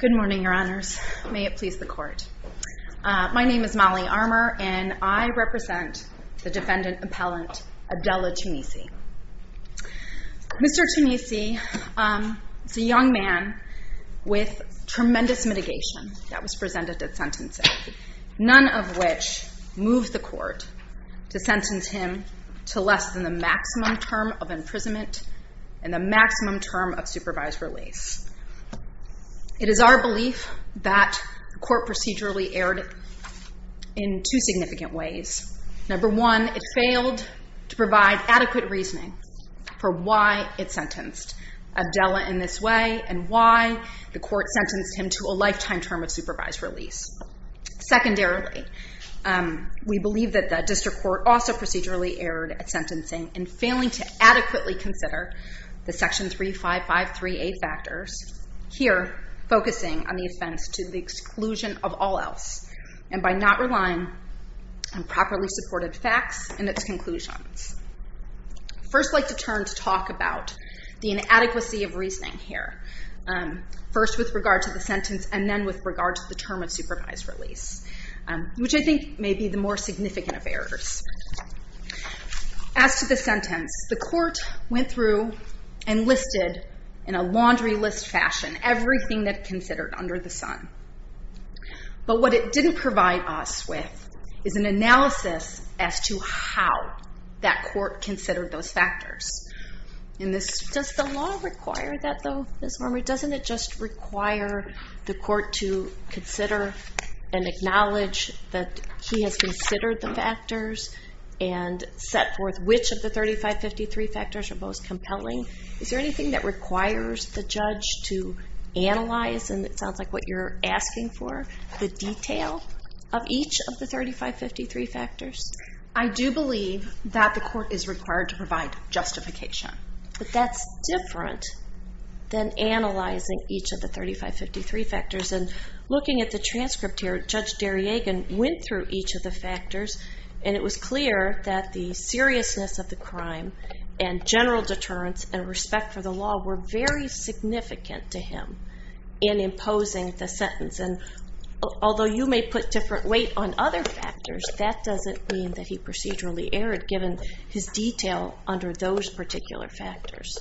Good morning, your honors. May it please the court. My name is Molly Armour and I represent the defendant appellant Abdella Tounisi. Mr. Tounisi is a young man with tremendous mitigation that was presented at sentencing, none of which moved the court to sentence him to less than the maximum term of imprisonment and the maximum term of supervised release. It is our belief that the court procedurally erred in two significant ways. Number one, it failed to provide adequate reasoning for why it sentenced Abdella in this way and why the court sentenced him to a lifetime term of supervised release. Secondarily, we believe that the district court also procedurally erred at sentencing in failing to adequately consider the section 3553A factors, here focusing on the offense to the exclusion of all else and by not relying on properly supported facts and its conclusions. I'd first like to turn to talk about the inadequacy of reasoning here, first with regard to the sentence and then with regard to the term of supervised release, which I think may be the more significant of errors. As to the sentence, the court went through and listed in a laundry list fashion everything that considered under the sun. But what it didn't provide us with is an analysis as to how that court considered those factors. Does the law require that though, Ms. Warmer? Doesn't it just require the court to consider and acknowledge that he has considered the factors and set forth which of the 3553 factors are most compelling? Is there anything that requires the judge to analyze, and it sounds like what you're asking for, the detail of each of the 3553 factors? I do believe that the court is required to provide justification. But that's different than analyzing each of the 3553 factors. And looking at the transcript here, Judge Darriagan went through each of the factors, and it was clear that the seriousness of the crime and general deterrence and respect for the law were very significant to him in imposing the sentence. And although you may put different weight on other factors, that doesn't mean that he procedurally erred given his detail under those particular factors.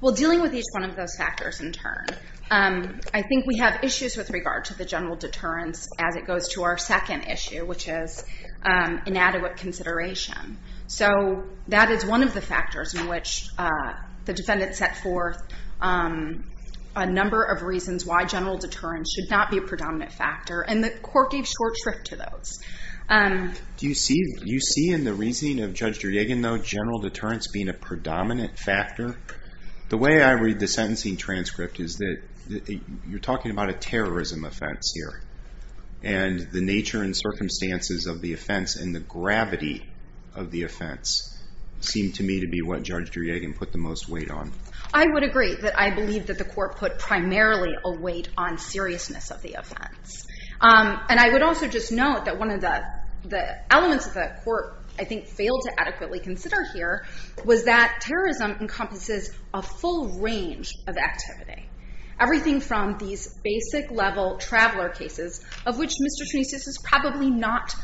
Well, dealing with each one of those factors in turn, I think we have issues with regard to the general deterrence as it goes to our second issue, which is inadequate consideration. So that is one of the factors in which the defendant set forth a number of reasons why general deterrence should not be a predominant factor, and the court gave short shrift to those. Do you see in the reasoning of Judge Darriagan, though, general deterrence being a predominant factor? The way I read the sentencing transcript is that you're talking about a terrorism offense here, and the nature and circumstances of the offense and the gravity of the offense seem to me to be what Judge Darriagan put the most weight on. I would agree that I believe that the court put primarily a weight on seriousness of the offense. And I would also just note that one of the elements that the court, I think, failed to adequately consider here was that terrorism encompasses a full range of activity. Everything from these basic level traveler cases, of which Mr. Tunesis is probably not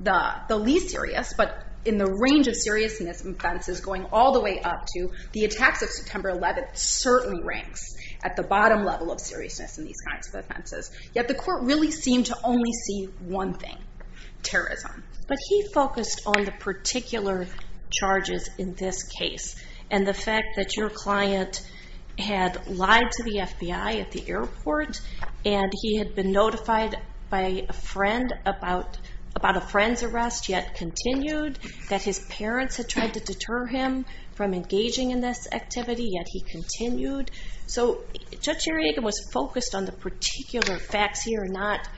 the least serious, but in the range of seriousness offenses going all the way up to the attacks of September 11th certainly ranks at the bottom level of seriousness in these kinds of offenses. Yet the court really seemed to only see one thing, terrorism. But he focused on the particular charges in this case, and the fact that your client had lied to the FBI at the airport, and he had been notified by a friend about a friend's arrest, yet continued, that his parents had tried to deter him from engaging in this activity, yet he continued. So Judge Darriagan was focused on the particular facts here, not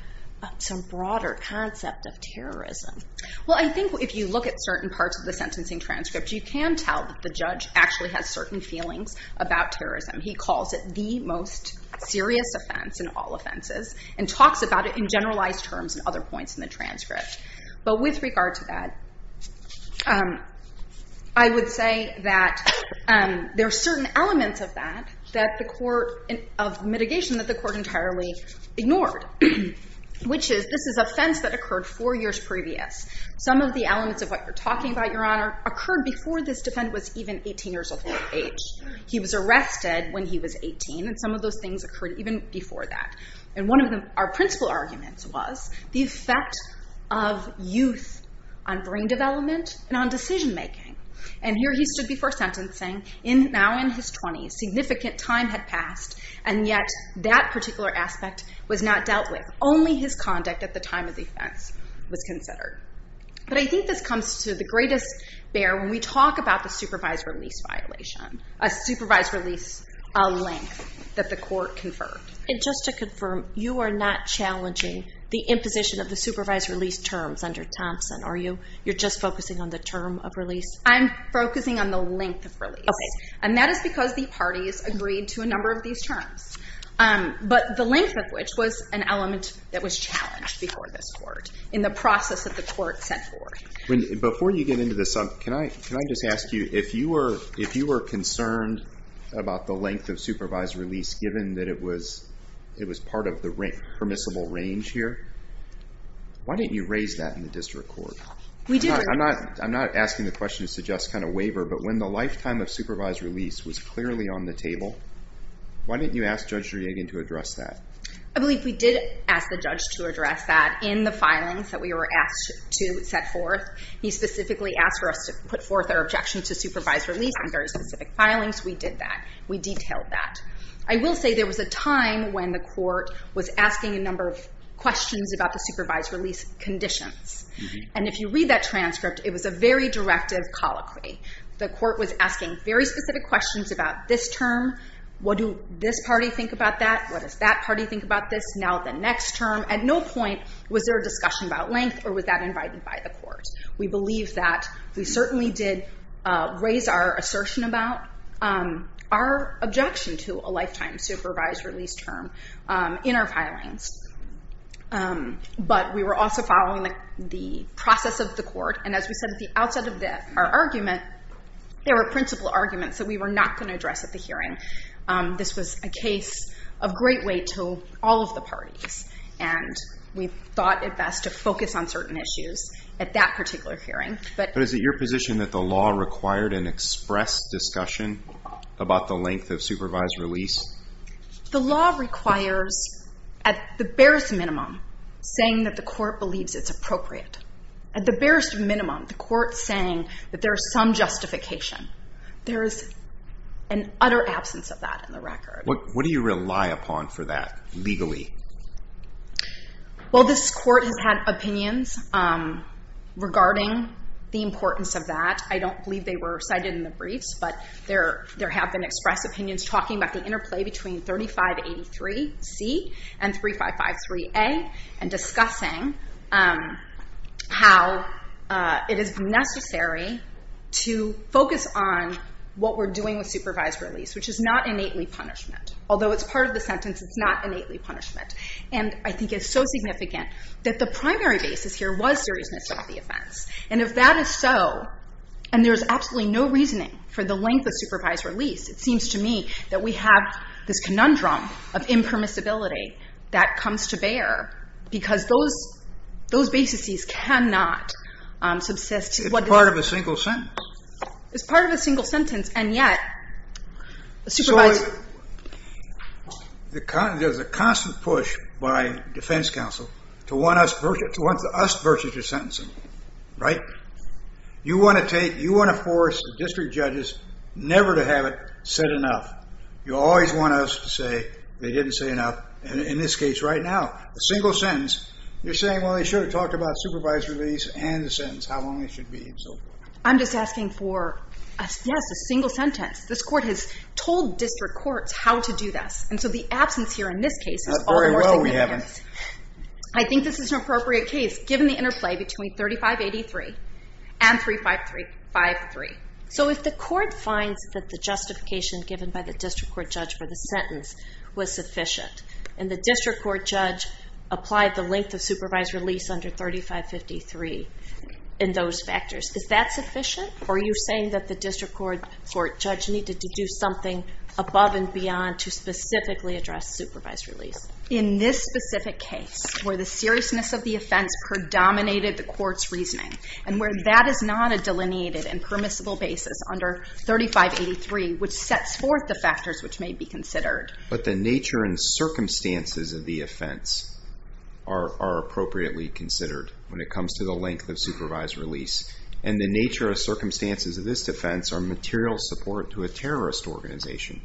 some broader concept of terrorism. Well, I think if you look at certain parts of the sentencing transcript, you can tell that the judge actually has certain feelings about terrorism. He calls it the most serious offense in all offenses, and talks about it in generalized terms in other points in the transcript. But with regard to that, I would say that there are certain elements of that, of mitigation, that the court entirely ignored, which is this is offense that occurred four years previous. Some of the elements of what you're talking about, Your Honor, occurred before this defendant was even 18 years of age. He was arrested when he was 18, and some of those things occurred even before that. And one of our principal arguments was the effect of youth on brain development and on decision making. And here he stood before sentencing, now in his 20s, significant time had passed, and yet that particular aspect was not dealt with. Only his conduct at the time of the offense was considered. But I think this comes to the greatest bear when we talk about the supervised release violation, a supervised release, a length, that the court conferred. And just to confirm, you are not challenging the imposition of the supervised release terms under Thompson, are you? You're just focusing on the term of release? I'm focusing on the length of release. Okay. And that is because the parties agreed to a number of these terms. But the length of which was an element that was challenged before this court, in the process that the court set forth. Before you get into this, can I just ask you, if you were concerned about the length of supervised release, given that it was part of the permissible range here, why didn't you raise that in the district court? I'm not asking the question to suggest kind of waiver, but when the lifetime of supervised release was clearly on the table, why didn't you ask Judge Deryagin to address that? I believe we did ask the judge to address that in the filings that we were asked to set forth. He specifically asked for us to put forth our objection to supervised release on very specific filings. We did that. We detailed that. I will say there was a time when the court was asking a number of questions about the supervised release conditions. And if you read that transcript, it was a very directive colloquy. The court was asking very specific questions about this term. What do this party think about that? What does that party think about this? Now the next term. At no point was there a discussion about length, or was that invited by the court? We believe that. We certainly did raise our assertion about our objection to a lifetime supervised release term in our filings. But we were also following the process of the court. And as we said at the outset of our argument, there were principal arguments that we were not going to address at the hearing. This was a case of great weight to all of the parties. And we thought it best to focus on certain issues at that particular hearing. But is it your position that the law required an express discussion about the length of supervised release? The law requires, at the barest minimum, saying that the court believes it's appropriate. At the barest minimum, the court saying that there is some justification. There is an utter absence of that in the record. What do you rely upon for that legally? Well, this court has had opinions regarding the importance of that. I don't believe they were cited in the briefs. But there have been expressed opinions talking about the interplay between 3583C and 3553A and discussing how it is necessary to focus on what we're doing with supervised release, which is not innately punishment. Although it's part of the sentence, it's not innately punishment. And I think it's so significant that the primary basis here was seriousness of the offense. And if that is so, and there is absolutely no reasoning for the length of supervised release, it seems to me that we have this conundrum of impermissibility that comes to bear, because those basises cannot subsist. It's part of a single sentence. It's part of a single sentence. And yet, supervised. There's a constant push by defense counsel to want us versus their sentencing, right? You want to take, you want to force the district judges never to have it said enough. You always want us to say they didn't say enough. And in this case right now, a single sentence, you're saying, well, they should have talked about supervised release and the sentence, how long it should be and so forth. I'm just asking for, yes, a single sentence. This court has told district courts how to do this. And so the absence here in this case is all the more significant. Not very well we haven't. I think this is an appropriate case, given the interplay between 3583 and 3553. So if the court finds that the justification given by the district court judge for the sentence was sufficient, and the district court judge applied the length of supervised release under 3553 in those factors, is that sufficient? Or are you saying that the district court judge needed to do something above and beyond to specifically address supervised release? In this specific case, where the seriousness of the offense predominated the court's reasoning, and where that is not a delineated and permissible basis under 3583, which sets forth the factors which may be considered. But the nature and circumstances of the offense are appropriately considered when it comes to the length of supervised release. And the nature and circumstances of this defense are material support to a terrorist organization.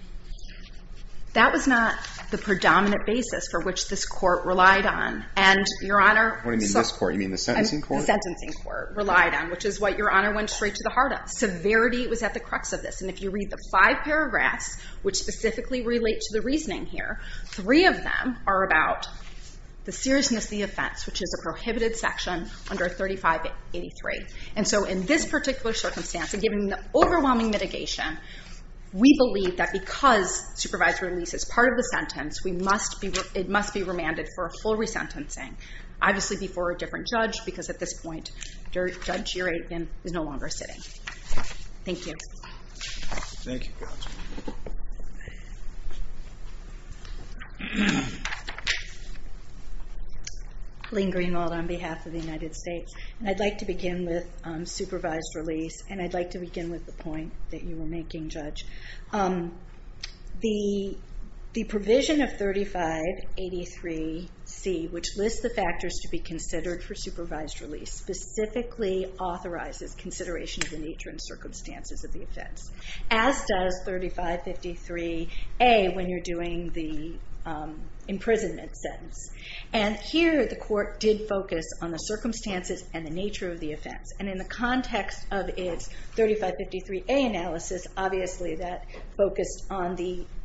That was not the predominant basis for which this court relied on. And, Your Honor, What do you mean this court? You mean the sentencing court? The sentencing court relied on, which is what Your Honor went straight to the heart of. Severity was at the crux of this. And if you read the five paragraphs, which specifically relate to the reasoning here, three of them are about the seriousness of the offense, which is a prohibited section under 3583. And so in this particular circumstance, and given the overwhelming mitigation, we believe that because supervised release is part of the sentence, it must be remanded for a full resentencing, obviously before a different judge, because at this point, Judge Juregen is no longer sitting. Thank you. Thank you, counsel. Lynn Greenwald on behalf of the United States. I'd like to begin with supervised release, and I'd like to begin with the point that you were making, Judge. The provision of 3583C, which lists the factors to be considered for supervised release, specifically authorizes consideration of the nature and circumstances of the offense, as does 3553A when you're doing the imprisonment sentence. And here the court did focus on the circumstances and the nature of the offense. And in the context of its 3553A analysis, obviously that focused on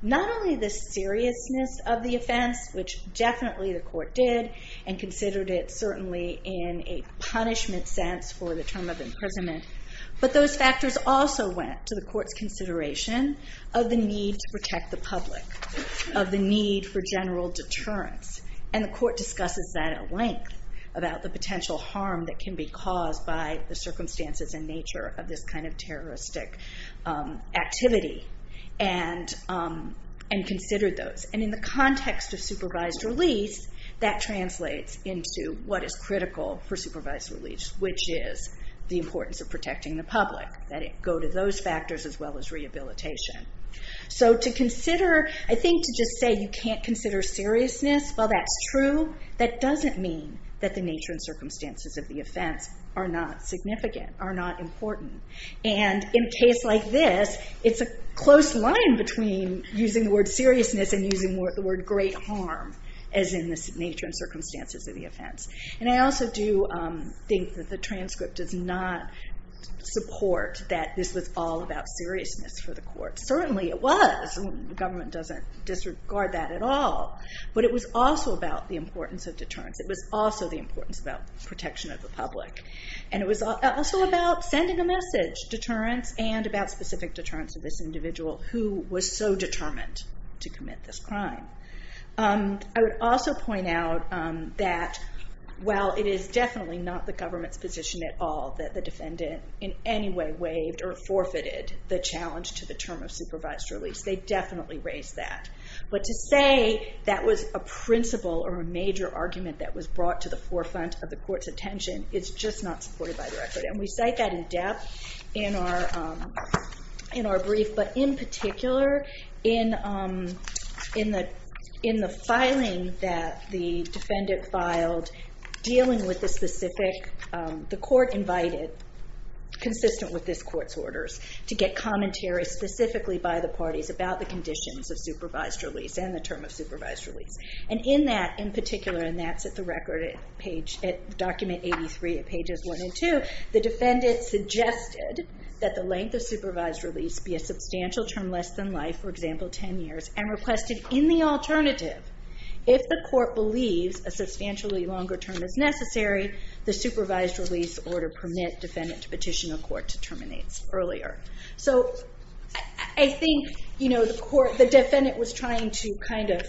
not only the seriousness of the offense, which definitely the court did, and considered it certainly in a punishment sense for the term of imprisonment, but those factors also went to the court's consideration of the need to protect the public, of the need for general deterrence. And the court discusses that at length, about the potential harm that can be caused by the circumstances and nature of this kind of terroristic activity, and considered those. And in the context of supervised release, that translates into what is critical for supervised release, which is the importance of protecting the public, that it go to those factors as well as rehabilitation. So to consider, I think to just say you can't consider seriousness, while that's true, that doesn't mean that the nature and circumstances of the offense are not significant, are not important. And in a case like this, it's a close line between using the word seriousness and using the word great harm, as in the nature and circumstances of the offense. And I also do think that the transcript does not support that this was all about seriousness for the court. Certainly it was. The government doesn't disregard that at all. But it was also about the importance of deterrence. It was also the importance about protection of the public. And it was also about sending a message, deterrence and about specific deterrence of this individual who was so determined to commit this crime. I would also point out that, while it is definitely not the government's position at all that the defendant in any way waived or forfeited the challenge to the term of supervised release, they definitely raised that. But to say that was a principle or a major argument that was brought to the forefront of the court's attention is just not supported by the record. And we cite that in depth in our brief. But in particular, in the filing that the defendant filed, dealing with the specific, the court invited, consistent with this court's orders, to get commentary specifically by the parties about the conditions of supervised release and the term of supervised release. And in that, in particular, and that's at the record, at document 83 at pages 1 and 2, the defendant suggested that the length of supervised release be a substantial term less than life, for example, 10 years, and requested in the alternative, if the court believes a substantially longer term is necessary, the supervised release order permit defendant to petition a court to terminate earlier. So I think, you know, the court, the defendant was trying to kind of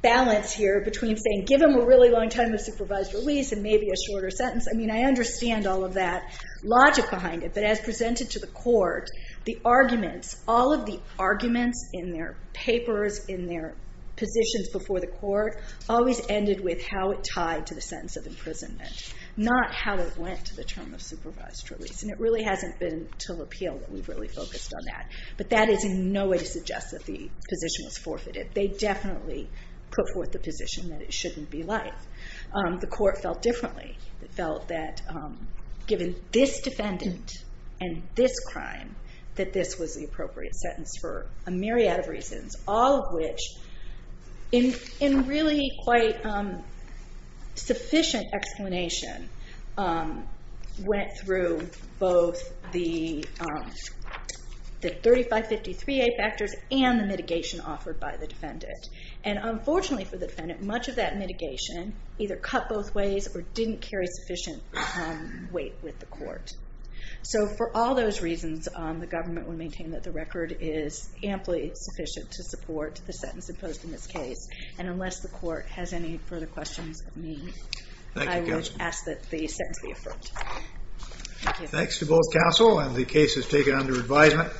balance here between saying give them a really long time of supervised release and maybe a shorter sentence. I mean, I understand all of that logic behind it. But as presented to the court, the arguments, all of the arguments in their papers, in their positions before the court, always ended with how it tied to the sentence of imprisonment, not how it went to the term of supervised release. And it really hasn't been until appeal that we've really focused on that. But that is in no way to suggest that the position was forfeited. They definitely put forth the position that it shouldn't be life. The court felt differently. It felt that given this defendant and this crime, that this was the appropriate sentence for a myriad of reasons, all of which, in really quite sufficient explanation, went through both the 3553A factors and the mitigation offered by the defendant. And unfortunately for the defendant, much of that mitigation either cut both ways or didn't carry sufficient weight with the court. So for all those reasons, the government would maintain that the record is amply sufficient to support the sentence imposed in this case. And unless the court has any further questions of me, I would ask that the sentence be affirmed. Thank you. Thanks to both counsel and the cases taken under advisement.